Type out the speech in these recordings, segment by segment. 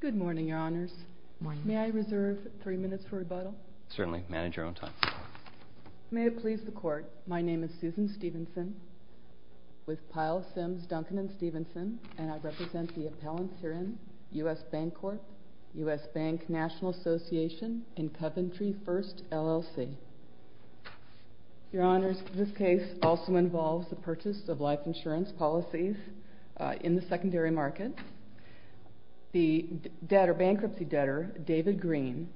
Good morning, your honors. May I reserve three minutes for rebuttal? Certainly. Manage your own time. May it please the court, my name is Susan Stevenson, with Pyle, Sims, Duncan, and Stevenson, and I represent the appellants herein, US Bancorp, US Bank National Association, and your honors, this case also involves the purchase of life insurance policies in the secondary market. The debtor, bankruptcy debtor, David Green,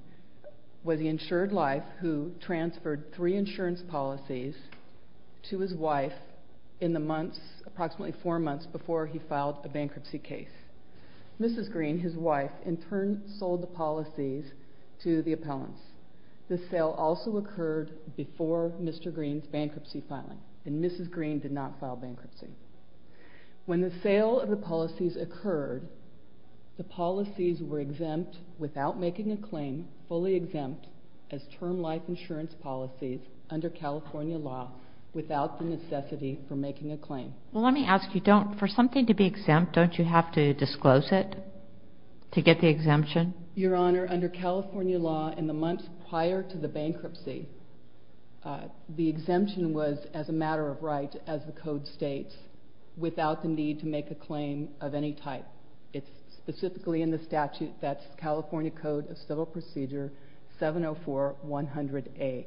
was the insured life who transferred three insurance policies to his wife in the months, approximately four months, before he filed a bankruptcy case. Mrs. Green, his wife, in turn sold the policies to the appellants. This sale also occurred before Mr. Green's bankruptcy filing, and Mrs. Green did not file bankruptcy. When the sale of the policies occurred, the policies were exempt without making a claim, fully exempt, as term life insurance policies under California law, without the necessity for making a claim. Well, let me ask you, don't, for something to be exempt, don't you have to disclose it to get the exemption? Your honor, under California law, in the months prior to the bankruptcy, the exemption was as a matter of right, as the code states, without the need to make a claim of any type. It's specifically in the statute that's California Code of Civil Procedure 704-100A,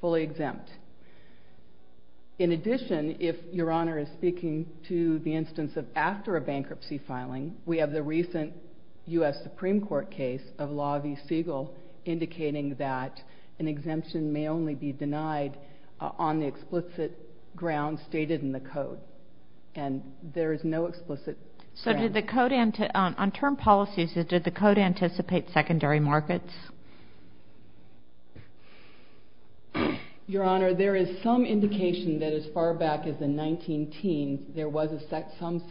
fully exempt. In addition, if your honor is speaking to the instance of after a bankruptcy filing, we have the recent U.S. Supreme Court case of Law v. Siegel, indicating that an exemption may only be denied on the explicit grounds stated in the code, and there is no explicit grounds. So did the code, on term policies, did the code anticipate secondary markets? Your honor, there is some indication that as far back as the 19-teens, there was some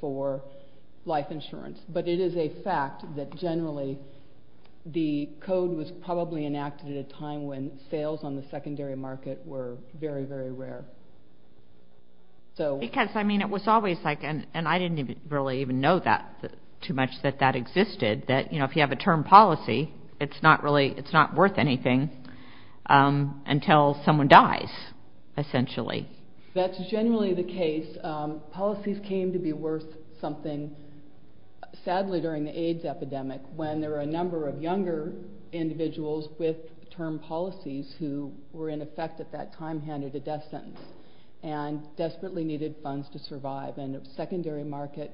for life insurance. But it is a fact that generally, the code was probably enacted at a time when sales on the secondary market were very, very rare. Because, I mean, it was always like, and I didn't really even know that too much, that that existed, that, you know, if you have a term policy, it's not really, it's not worth anything until someone dies, essentially. That's generally the case. Policies came to be worth something, sadly, during the AIDS epidemic, when there were a number of younger individuals with term policies who were in effect at that time handed a death sentence, and desperately needed funds to survive. And the secondary market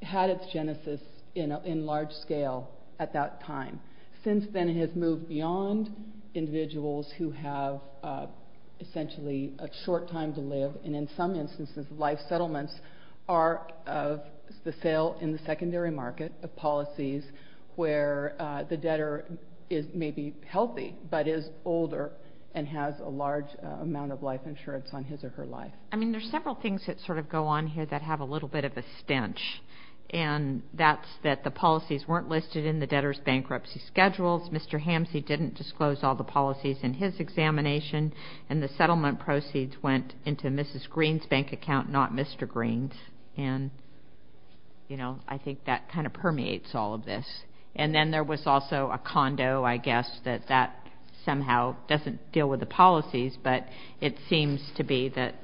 had its genesis in large scale at that time. Since then, it has moved beyond individuals who have essentially a short time to live, and in some instances, life settlements are of the sale in the secondary market of policies where the debtor is maybe healthy, but is older and has a large amount of life insurance on his or her life. I mean, there's several things that sort of go on here that have a little bit of a stench. And that's that the policies weren't listed in the debtor's bankruptcy schedules. Mr. Hamsey didn't disclose all the policies in his examination, and the settlement proceeds went into Mrs. Green's bank account, not Mr. Green's. And, you know, I think that kind of permeates all of this. And then there was also a condo, I guess, that that somehow doesn't deal with the policies, but it seems to be that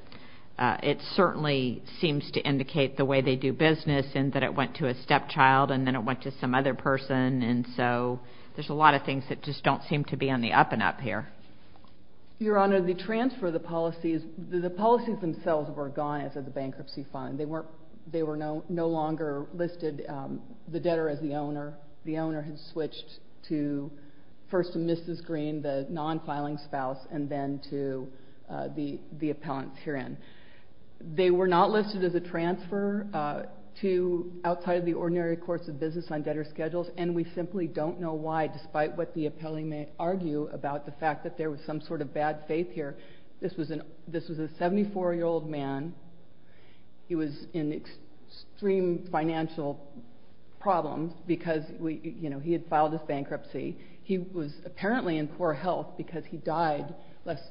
it certainly seems to indicate the way they do business, and that it went to a stepchild, and then it went to some other person. And so there's a lot of things that just don't seem to be on the up and up here. Your Honor, the transfer of the policies, the policies themselves were gone as of the bankruptcy filing. They were no longer listed, the debtor as the owner. The owner had switched to first to Mrs. Green, the non-filing spouse, and then to the appellant herein. They were not listed as a transfer to outside of the ordinary course of business on debtor schedules, and we simply don't know why, despite what the appellant may argue about the fact that there was some sort of bad faith here. This was a 74-year-old man. He was in extreme financial problems because, you know, he had filed his bankruptcy. He was apparently in poor health because he died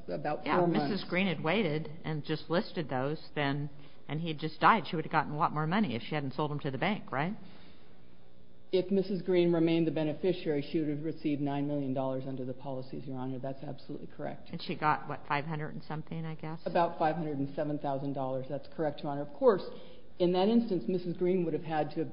about four months. Yeah, Mrs. Green had waited and just listed those, and he had just died. She would have gotten a lot more money if she hadn't sold him to the bank, right? If Mrs. Green remained the beneficiary, she would have received $9 million under the policies, Your Honor. That's absolutely correct. That's about $507,000. That's correct, Your Honor. Of course, in that instance, Mrs. Green would have had to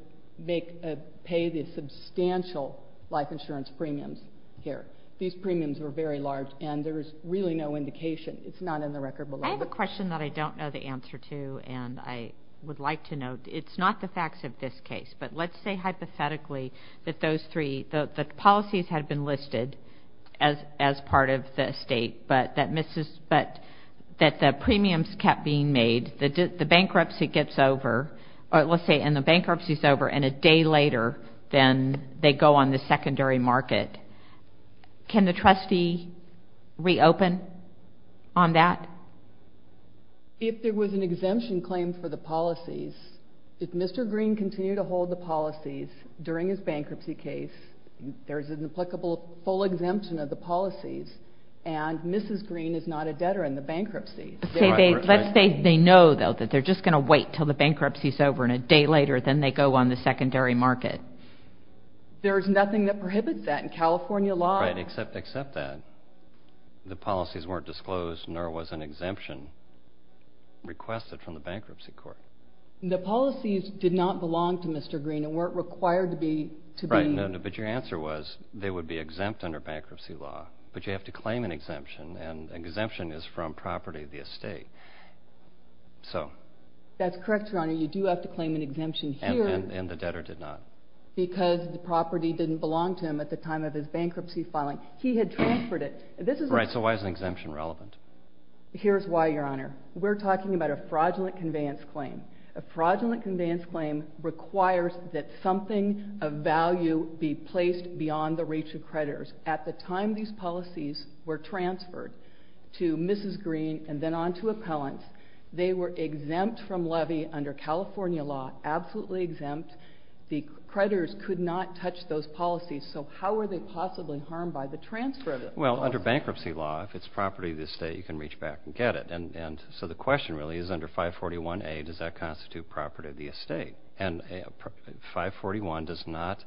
pay the substantial life insurance premiums here. These premiums were very large, and there is really no indication. It's not in the record below. I have a question that I don't know the answer to, and I would like to know. It's not the facts of this case, but let's say hypothetically that those three, the policies had been listed as part of the estate, but that the premiums kept being made. The bankruptcy gets over, or let's say, and the bankruptcy is over, and a day later, then they go on the secondary market. Can the trustee reopen on that? If there was an exemption claim for the policies, if Mr. Green continued to hold the policies during his bankruptcy case, there's an applicable full exemption of the policies, and Mrs. Green is not a debtor in the bankruptcy. Let's say they know, though, that they're just going to wait until the bankruptcy is over, and a day later, then they go on the secondary market. There is nothing that prohibits that in California law. Right, except that the policies weren't disclosed, and there was an exemption requested from the bankruptcy court. The policies did not belong to Mr. Green and weren't required to be... Right, but your answer was they would be exempt under bankruptcy law, but you have to claim an exemption, and exemption is from property of the estate. That's correct, Your Honor. You do have to claim an exemption here. And the debtor did not. Because the property didn't belong to him at the time of his bankruptcy filing. He had transferred it. Right, so why is an exemption relevant? Here's why, Your Honor. We're talking about a fraudulent conveyance claim. A fraudulent conveyance claim requires that something of value be placed beyond the reach of creditors. At the time these policies were transferred to Mrs. Green and then on to appellants, they were exempt from levy under California law, absolutely exempt. The creditors could not touch those policies, so how were they possibly harmed by the transfer of them? Well, under bankruptcy law, if it's property of the estate, you can reach back and get it. So the question really is under 541A, does that constitute property of the estate? And 541 does not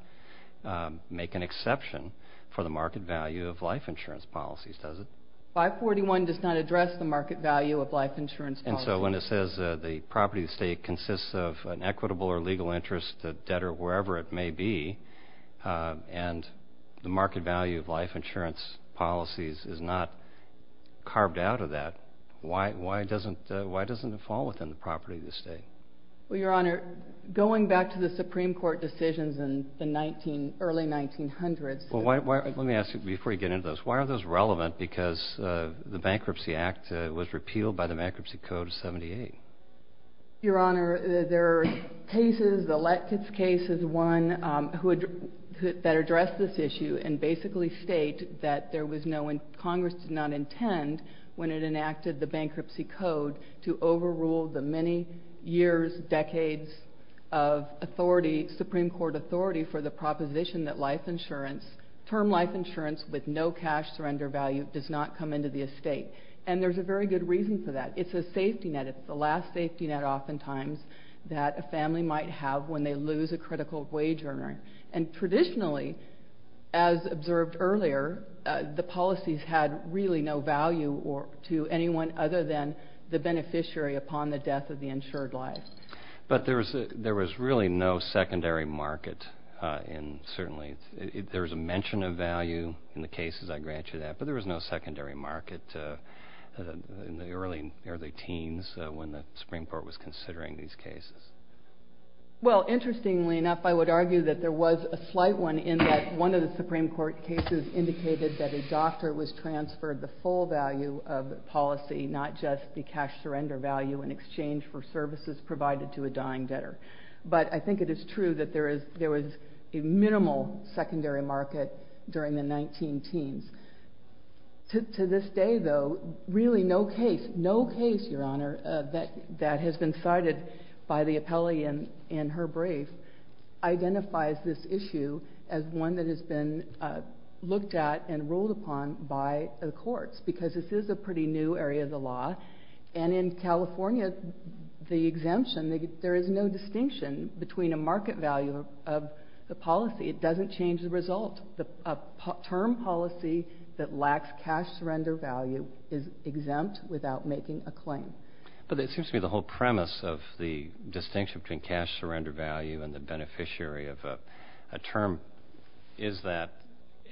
make an exception for the market value of life insurance policies, does it? 541 does not address the market value of life insurance policies. And so when it says the property of the estate consists of an equitable or legal interest, a debtor, wherever it may be, and the market value of life insurance policies is not carved out of that, why doesn't it fall within the property of the estate? Well, Your Honor, going back to the Supreme Court decisions in the early 1900s. Well, let me ask you before you get into those, why are those relevant because the Bankruptcy Act was repealed by the Bankruptcy Code of 78? Your Honor, there are cases, the Lettke's case is one, that address this issue and basically state that there was no one, Congress did not intend, when it enacted the Bankruptcy Code, to overrule the many years, decades of authority, Supreme Court authority, for the proposition that life insurance, term life insurance with no cash surrender value, does not come into the estate. And there's a very good reason for that. It's a safety net. It's the last safety net, oftentimes, that a family might have when they lose a critical wage earner. And traditionally, as observed earlier, the policies had really no value to anyone other than the beneficiary upon the death of the insured life. But there was really no secondary market. And certainly there was a mention of value in the cases, I grant you that, but there was no secondary market in the early teens when the Supreme Court was considering these cases. Well, interestingly enough, I would argue that there was a slight one in that one of the Supreme Court cases indicated that a doctor was transferred the full value of the policy, not just the cash surrender value in exchange for services provided to a dying debtor. But I think it is true that there was a minimal secondary market during the 19-teens. To this day, though, really no case, no case, Your Honor, that has been cited by the appellee in her brief identifies this issue as one that has been looked at and ruled upon by the courts, because this is a pretty new area of the law. And in California, the exemption, there is no distinction between a market value of the policy. It doesn't change the result. A term policy that lacks cash surrender value is exempt without making a claim. But it seems to me the whole premise of the distinction between cash surrender value and the beneficiary of a term is that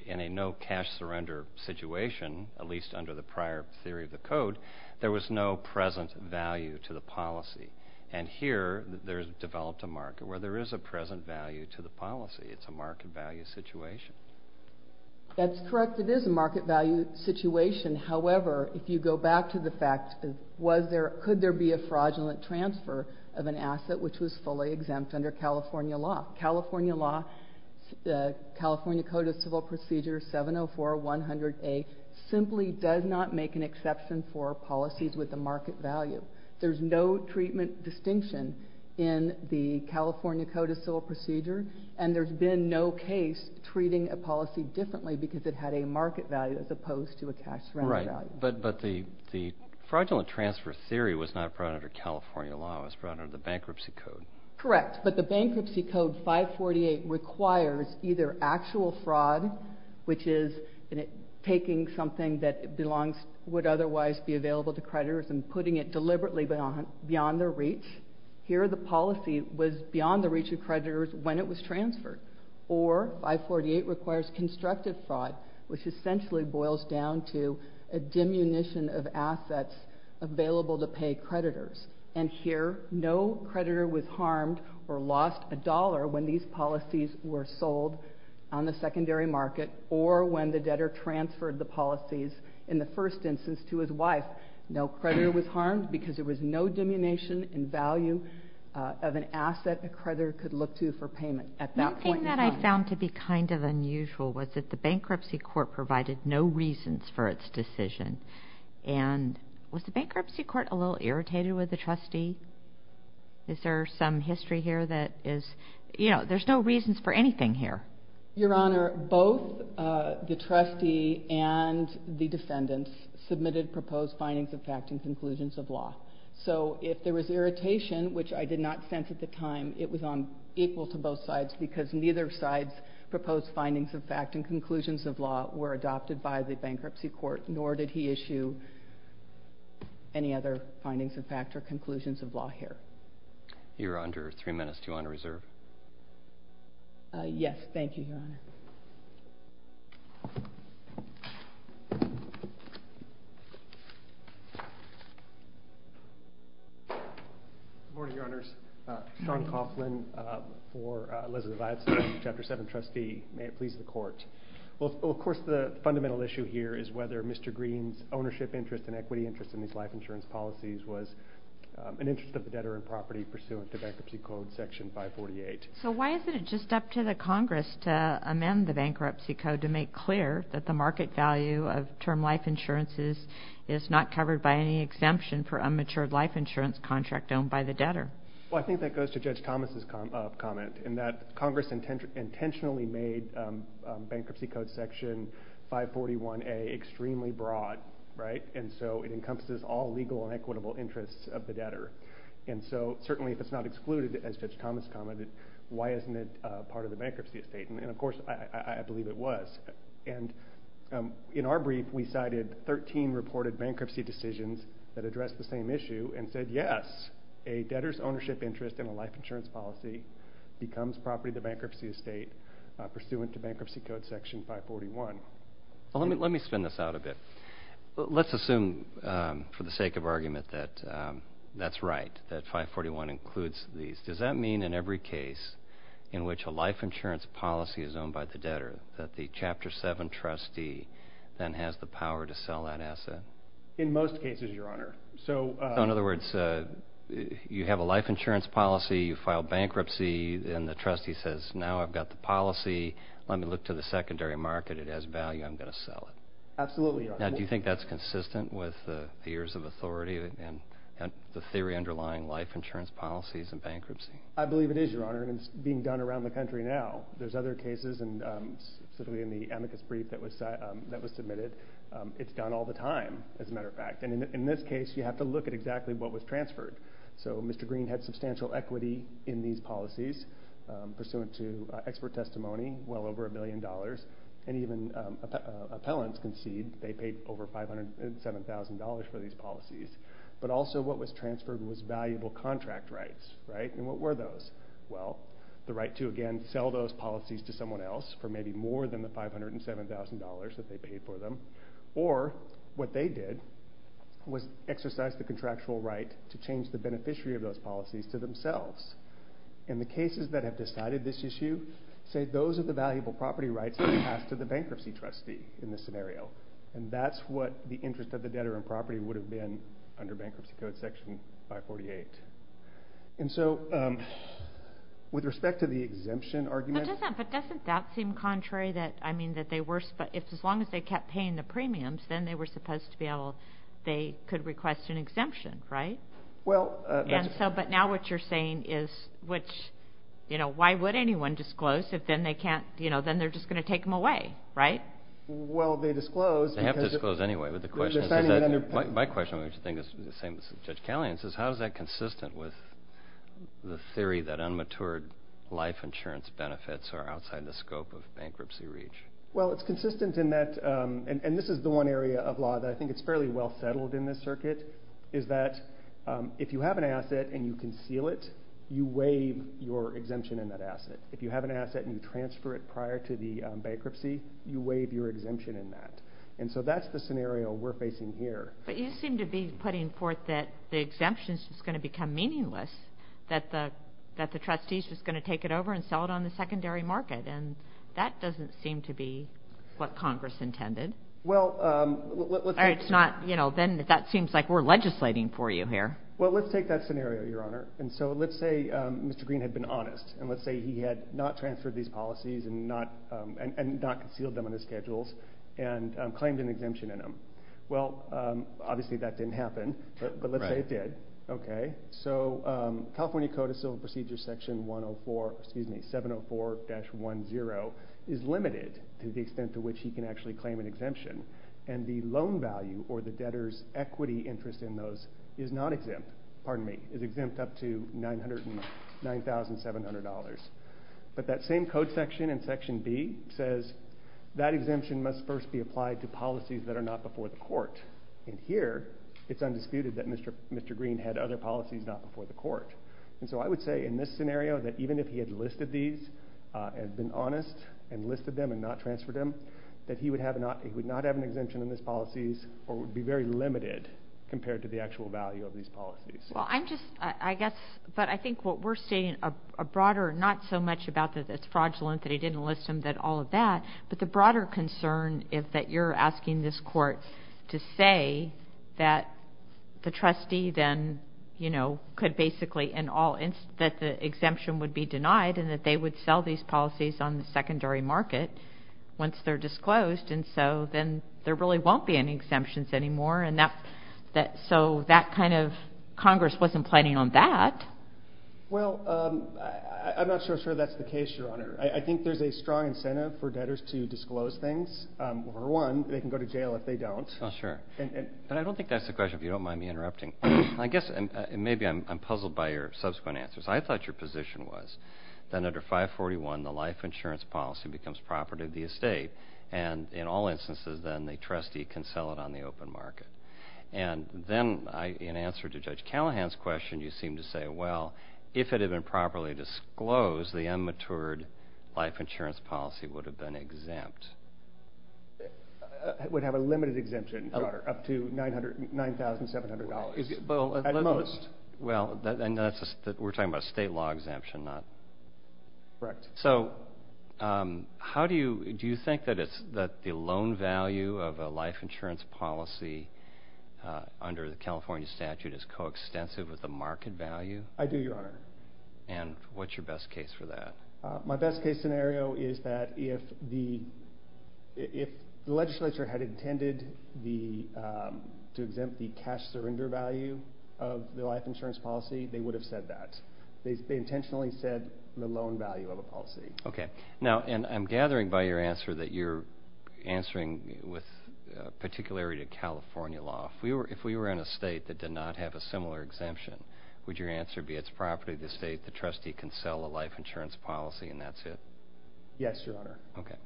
in a no cash surrender situation, at least under the prior theory of the code, there was no present value to the policy. And here there's developed a market where there is a present value to the policy. It's a market value situation. That's correct. It is a market value situation. However, if you go back to the fact, could there be a fraudulent transfer of an asset which was fully exempt under California law? California law, the California Code of Civil Procedure 704-100A simply does not make an exception for policies with a market value. There's no treatment distinction in the California Code of Civil Procedure, and there's been no case treating a policy differently because it had a market value as opposed to a cash surrender value. But the fraudulent transfer theory was not brought under California law. It was brought under the bankruptcy code. Correct. But the bankruptcy code 548 requires either actual fraud, which is taking something that would otherwise be available to creditors and putting it deliberately beyond their reach. Here the policy was beyond the reach of creditors when it was transferred. Or 548 requires constructive fraud, which essentially boils down to a diminution of assets available to pay creditors. And here no creditor was harmed or lost a dollar when these policies were sold on the secondary market or when the debtor transferred the policies in the first instance to his wife. No creditor was harmed because there was no diminution in value of an asset a creditor could look to for payment at that point in time. One thing that I found to be kind of unusual was that the bankruptcy court provided no reasons for its decision. And was the bankruptcy court a little irritated with the trustee? Is there some history here that is, you know, there's no reasons for anything here. Your Honor, both the trustee and the defendants submitted proposed findings of fact and conclusions of law. So if there was irritation, which I did not sense at the time, it was on equal to both sides because neither side's proposed findings of fact and conclusions of law were adopted by the bankruptcy court, nor did he issue any other findings of fact or conclusions of law here. Your Honor, three minutes to honor reserve. Yes, thank you, Your Honor. Good morning, Your Honors. Sean Coughlin for Elizabeth Iveson, Chapter 7 trustee. May it please the Court. Well, of course, the fundamental issue here is whether Mr. Green's ownership interest and equity interest in these life insurance policies was an interest of the debtor in property pursuant to Bankruptcy Code Section 548. So why isn't it just up to the Congress to amend the Bankruptcy Code to make clear that the market value of term life insurances is not covered by any exemption for unmatured life insurance contract owned by the debtor? Well, I think that goes to Judge Thomas' comment in that Congress intentionally made Bankruptcy Code Section 541A extremely broad, right? And so it encompasses all legal and equitable interests of the debtor. And so certainly if it's not excluded, as Judge Thomas commented, why isn't it part of the bankruptcy estate? And, of course, I believe it was. And in our brief, we cited 13 reported bankruptcy decisions that addressed the same issue and said, yes, a debtor's ownership interest in a life insurance policy becomes property of the bankruptcy estate pursuant to Bankruptcy Code Section 541. Let me spin this out a bit. Let's assume for the sake of argument that that's right, that 541 includes these. Does that mean in every case in which a life insurance policy is owned by the debtor that the Chapter 7 trustee then has the power to sell that asset? In most cases, Your Honor. So in other words, you have a life insurance policy, you file bankruptcy, and the trustee says, now I've got the policy. Let me look to the secondary market. It has value. I'm going to sell it. Absolutely, Your Honor. Now, do you think that's consistent with the years of authority and the theory underlying life insurance policies and bankruptcy? I believe it is, Your Honor, and it's being done around the country now. There's other cases, and certainly in the amicus brief that was submitted, it's done all the time, as a matter of fact. And in this case, you have to look at exactly what was transferred. So Mr. Green had substantial equity in these policies, pursuant to expert testimony, well over a billion dollars, and even appellants concede they paid over $507,000 for these policies. But also what was transferred was valuable contract rights, right? And what were those? Well, the right to, again, sell those policies to someone else for maybe more than the $507,000 that they paid for them, or what they did was exercise the contractual right to change the beneficiary of those policies to themselves. And the cases that have decided this issue say those are the valuable property rights that are passed to the bankruptcy trustee in this scenario, and that's what the interest of the debtor in property would have been under Bankruptcy Code Section 548. And so with respect to the exemption argument. But doesn't that seem contrary that, I mean, that they were, as long as they kept paying the premiums, then they were supposed to be able, they could request an exemption, right? But now what you're saying is, why would anyone disclose if then they're just going to take them away, right? Well, they disclosed. They have to disclose anyway. My question, which I think is the same as Judge Callahan's, is how is that consistent with the theory that unmatured life insurance benefits are outside the scope of bankruptcy reach? Well, it's consistent in that, and this is the one area of law that I think it's fairly well settled in this circuit, is that if you have an asset and you conceal it, you waive your exemption in that asset. If you have an asset and you transfer it prior to the bankruptcy, you waive your exemption in that. And so that's the scenario we're facing here. But you seem to be putting forth that the exemption's just going to become meaningless, that the trustee's just going to take it over and sell it on the secondary market, and that doesn't seem to be what Congress intended. Well, let's take that scenario, Your Honor. And so let's say Mr. Green had been honest, and let's say he had not transferred these policies and not concealed them in his schedules and claimed an exemption in them. Well, obviously that didn't happen, but let's say it did. Okay. So California Code of Civil Procedures Section 704-10 is limited to the extent to which he can actually claim an exemption, and the loan value or the debtor's equity interest in those is not exempt. Pardon me. It's exempt up to $909,700. But that same code section in Section B says that exemption must first be applied to policies that are not before the court. And here it's undisputed that Mr. Green had other policies not before the court. And so I would say in this scenario that even if he had listed these and been honest and listed them and not transferred them, that he would not have an exemption in his policies or would be very limited compared to the actual value of these policies. Well, I'm just, I guess, but I think what we're seeing a broader, not so much about that it's fraudulent that he didn't list them, that all of that, but the broader concern is that you're asking this court to say that the trustee then, you know, could basically in all, that the exemption would be denied and that they would sell these policies on the secondary market once they're disclosed. And so then there really won't be any exemptions anymore. And so that kind of, Congress wasn't planning on that. Well, I'm not so sure that's the case, Your Honor. I think there's a strong incentive for debtors to disclose things. For one, they can go to jail if they don't. Oh, sure. But I don't think that's the question, if you don't mind me interrupting. I guess maybe I'm puzzled by your subsequent answers. I thought your position was that under 541, the life insurance policy becomes property of the estate, and in all instances then the trustee can sell it on the open market. And then in answer to Judge Callahan's question, you seem to say, well, if it had been properly disclosed, the unmatured life insurance policy would have been exempt. It would have a limited exemption, Your Honor, up to $9,700 at most. Well, and we're talking about a state law exemption, not. Correct. So how do you, do you think that the loan value of a life insurance policy under the California statute is coextensive with the market value? I do, Your Honor. And what's your best case for that? My best case scenario is that if the legislature had intended to exempt the cash surrender value of the life insurance policy, they would have said that. They intentionally said the loan value of a policy. Okay. Now, and I'm gathering by your answer that you're answering with particularity to California law. If we were in a state that did not have a similar exemption, would your answer be it's property of the estate, the trustee can sell a life insurance policy, and that's it? Yes, Your Honor. Okay.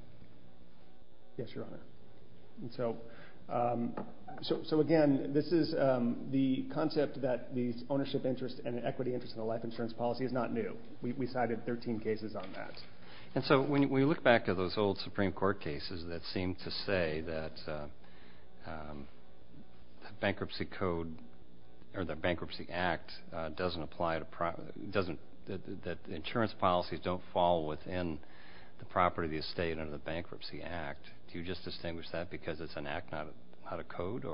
Yes, Your Honor. And so, again, this is the concept that the ownership interest and equity interest in a life insurance policy is not new. We cited 13 cases on that. And so when we look back to those old Supreme Court cases that seemed to say that bankruptcy code or the Bankruptcy Act doesn't apply to, that insurance policies don't fall within the property of the estate under the Bankruptcy Act, do you just distinguish that because it's an act, not a code?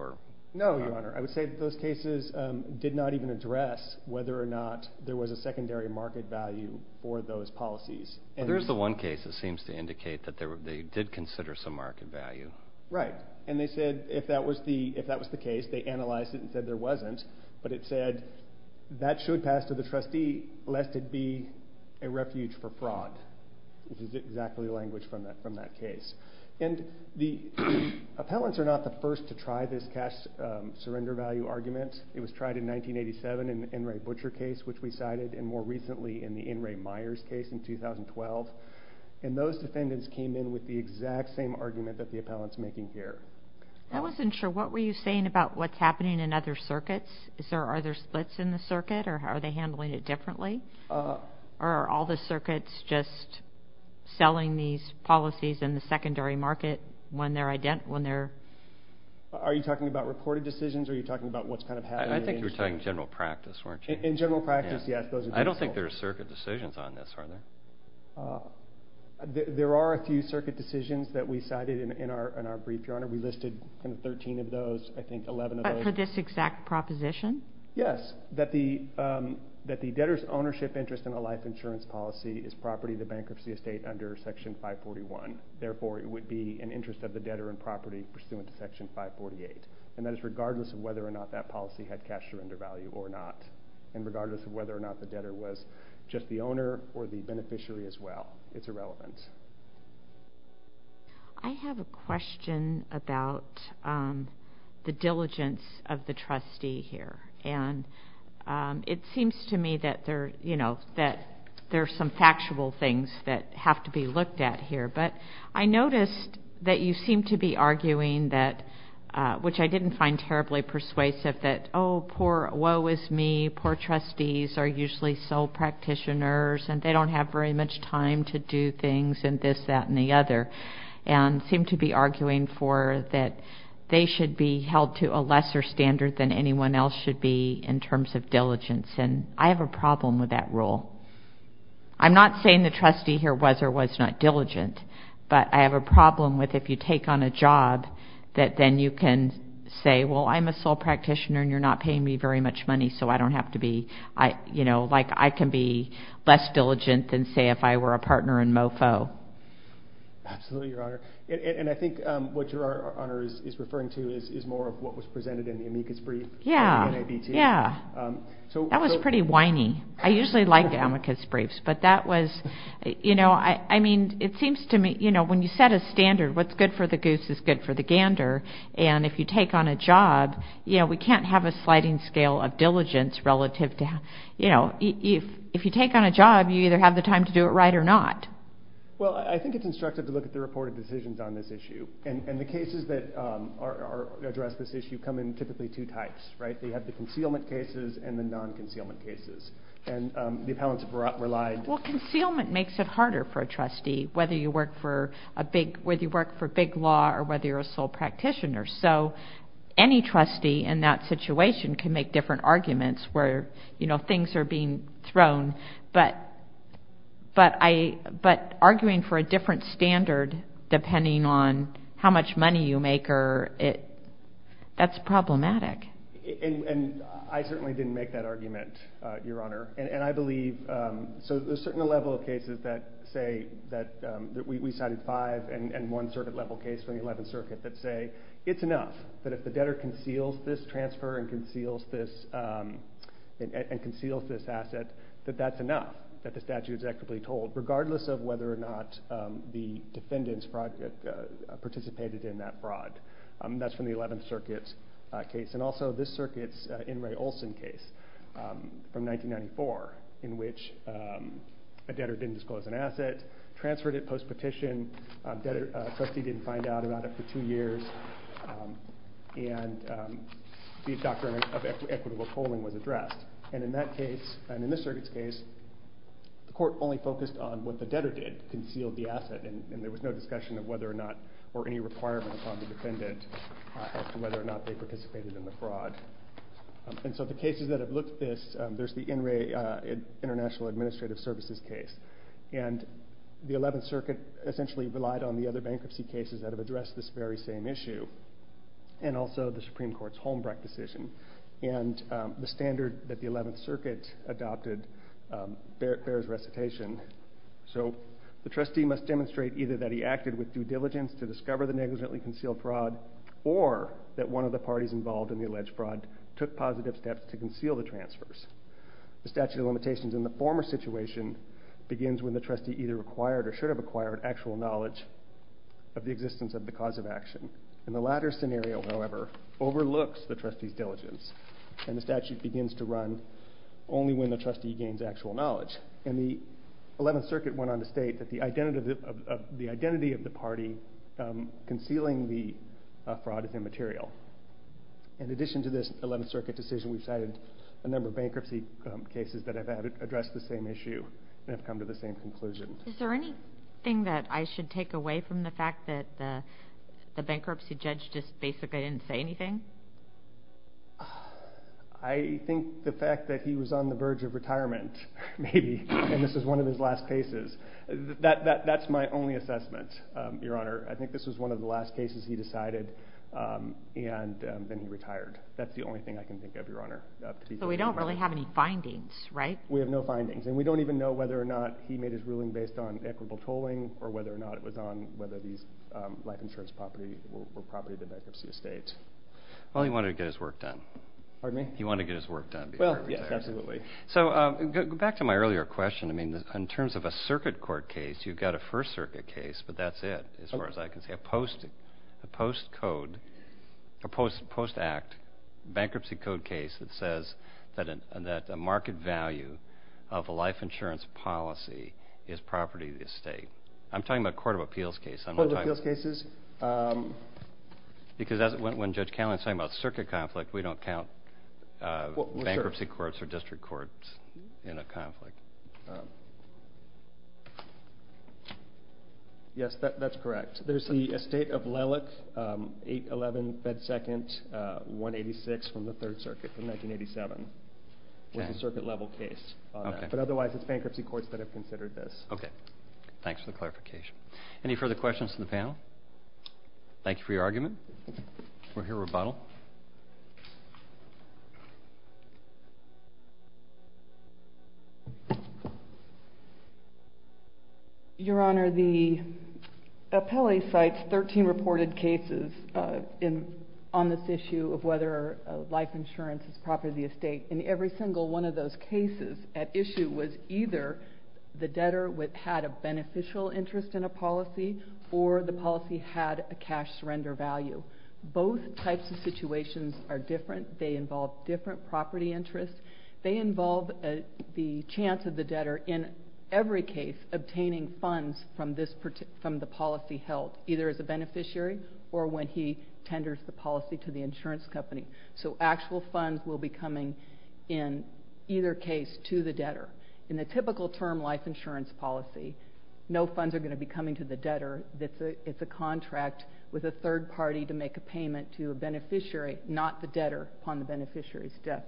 No, Your Honor. I would say that those cases did not even address whether or not there was a secondary market value for those policies. Well, there's the one case that seems to indicate that they did consider some market value. Right. And they said if that was the case, they analyzed it and said there wasn't, but it said that should pass to the trustee lest it be a refuge for fraud, which is exactly the language from that case. And the appellants are not the first to try this cash surrender value argument. It was tried in 1987 in the Enright Butcher case, which we cited, and more recently in the Enright Myers case in 2012. And those defendants came in with the exact same argument that the appellant's making here. I wasn't sure. What were you saying about what's happening in other circuits? Are there splits in the circuit, or are they handling it differently? Or are all the circuits just selling these policies in the secondary market when they're identical? Are you talking about reported decisions, or are you talking about what's kind of happening? I think you were talking general practice, weren't you? In general practice, yes. I don't think there are circuit decisions on this, are there? There are a few circuit decisions that we cited in our brief, Your Honor. We listed 13 of those, I think 11 of those. For this exact proposition? Yes, that the debtor's ownership interest in a life insurance policy is property to bankruptcy estate under Section 541. Therefore, it would be an interest of the debtor in property pursuant to Section 548. And that is regardless of whether or not that policy had cash surrender value or not, and regardless of whether or not the debtor was just the owner or the beneficiary as well. It's irrelevant. I have a question about the diligence of the trustee here. And it seems to me that there are some factual things that have to be looked at here, but I noticed that you seem to be arguing that, which I didn't find terribly persuasive, that, oh, poor, woe is me, poor trustees are usually sole practitioners, and they don't have very much time to do things and this, that, and the other, and seem to be arguing for that they should be held to a lesser standard than anyone else should be in terms of diligence. And I have a problem with that rule. I'm not saying the trustee here was or was not diligent, but I have a problem with if you take on a job that then you can say, well, I'm a sole practitioner and you're not paying me very much money, so I don't have to be, you know, like I can be less diligent than, say, if I were a partner in MOFO. Absolutely, Your Honor. And I think what Your Honor is referring to is more of what was presented in the amicus brief on the NABT. Yeah, yeah. That was pretty whiny. I usually like amicus briefs, but that was, you know, I mean, it seems to me, you know, when you set a standard, what's good for the goose is good for the gander, and if you take on a job, you know, we can't have a sliding scale of diligence relative to, you know, if you take on a job, you either have the time to do it right or not. Well, I think it's instructive to look at the reported decisions on this issue, and the cases that address this issue come in typically two types, right? They have the concealment cases and the non-concealment cases. And the appellants have relied. Well, concealment makes it harder for a trustee, whether you work for a big, big law or whether you're a sole practitioner. So any trustee in that situation can make different arguments where, you know, things are being thrown. But arguing for a different standard depending on how much money you make, that's problematic. And I certainly didn't make that argument, Your Honor. And I believe so there's a certain level of cases that say that we cited five and one circuit level case from the 11th Circuit that say it's enough that if the debtor conceals this transfer and conceals this asset, that that's enough, that the statute is equitably told, regardless of whether or not the defendants participated in that fraud. That's from the 11th Circuit case. And also this circuit's In re Olson case from 1994 in which a debtor didn't disclose an asset, transferred it post-petition, trustee didn't find out about it for two years, and the doctrine of equitable tolling was addressed. And in that case, and in this circuit's case, the court only focused on what the debtor did, concealed the asset, and there was no discussion of whether or not or any requirement upon the defendant as to whether or not they participated in the fraud. And so the cases that have looked at this, there's the In re International Administrative Services case, and the 11th Circuit essentially relied on the other bankruptcy cases that have addressed this very same issue, and also the Supreme Court's Holmbrecht decision. And the standard that the 11th Circuit adopted bears recitation. So the trustee must demonstrate either that he acted with due diligence to discover the negligently concealed fraud or that one of the parties involved in the alleged fraud took positive steps to conceal the transfers. The statute of limitations in the former situation begins when the trustee either acquired or should have acquired actual knowledge of the existence of the cause of action. In the latter scenario, however, overlooks the trustee's diligence, and the statute begins to run only when the trustee gains actual knowledge. And the 11th Circuit went on to state that the identity of the party concealing the fraud is immaterial. In addition to this 11th Circuit decision, we've cited a number of bankruptcy cases that have addressed the same issue and have come to the same conclusion. Is there anything that I should take away from the fact that the bankruptcy judge just basically didn't say anything? I think the fact that he was on the verge of retirement, maybe, and this was one of his last cases. That's my only assessment, Your Honor. I think this was one of the last cases he decided, and then he retired. That's the only thing I can think of, Your Honor. But we don't really have any findings, right? We have no findings. And we don't even know whether or not he made his ruling based on equitable tolling or whether or not it was on whether these life insurance property were property of the bankruptcy estate. Well, he wanted to get his work done. Pardon me? He wanted to get his work done. Well, yes, absolutely. So back to my earlier question. I mean, in terms of a Circuit Court case, you've got a First Circuit case, but that's it as far as I can see. I'm talking about a post-code or post-act bankruptcy code case that says that a market value of a life insurance policy is property of the estate. I'm talking about a Court of Appeals case. Court of Appeals cases? Because when Judge Canlan is talking about Circuit conflict, we don't count bankruptcy courts or district courts in a conflict. Yes, that's correct. There's the estate of Lellick, 811 Bed Second, 186 from the Third Circuit from 1987. It was a Circuit-level case. But otherwise, it's bankruptcy courts that have considered this. Okay. Thanks for the clarification. Any further questions from the panel? Thank you for your argument. We'll hear a rebuttal. Your Honor, the appellee cites 13 reported cases on this issue of whether life insurance is property of the estate. And every single one of those cases at issue was either the debtor had a beneficial interest in a policy or the policy had a cash surrender value. Both types of situations are different. They involve different property interests. They involve the chance of the debtor in every case obtaining funds from the policy held, either as a beneficiary or when he tenders the policy to the insurance company. So actual funds will be coming in either case to the debtor. In the typical term life insurance policy, no funds are going to be coming to the debtor. It's a contract with a third party to make a payment to a beneficiary, not the debtor, upon the beneficiary's death.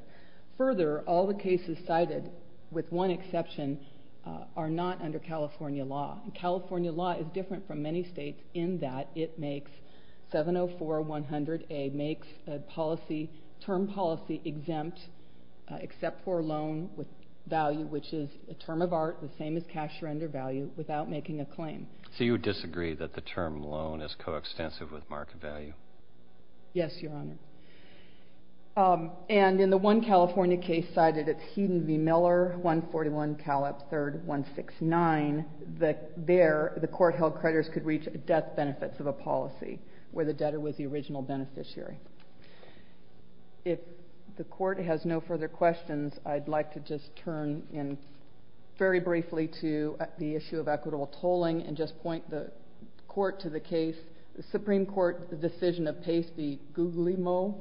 Further, all the cases cited, with one exception, are not under California law. California law is different from many states in that it makes 704-100A makes a policy, term policy, exempt except for loan value, which is a term of art, the same as cash surrender value, without making a claim. So you would disagree that the term loan is coextensive with market value? Yes, Your Honor. And in the one California case cited, it's Heaton v. Miller, 141 Callip, 3rd 169. There, the court held creditors could reach death benefits of a policy where the debtor was the original beneficiary. If the court has no further questions, I'd like to just turn in very briefly to the issue of equitable tolling and just point the court to the case. The Supreme Court decision of Pace v. Guglielmo,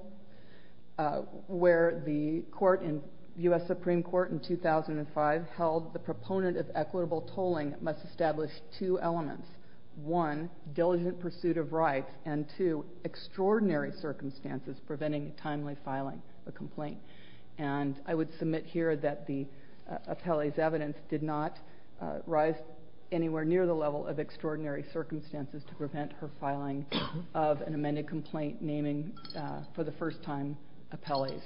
where the U.S. Supreme Court in 2005 held the proponent of equitable tolling must establish two elements. One, diligent pursuit of rights, and two, extraordinary circumstances preventing timely filing a complaint. And I would submit here that the appellee's evidence did not rise anywhere near the level of extraordinary circumstances to prevent her filing of an amended complaint naming for the first time appellees.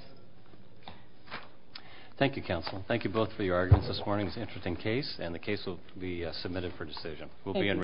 Thank you, counsel. Thank you both for your arguments this morning. It's an interesting case, and the case will be submitted for decision.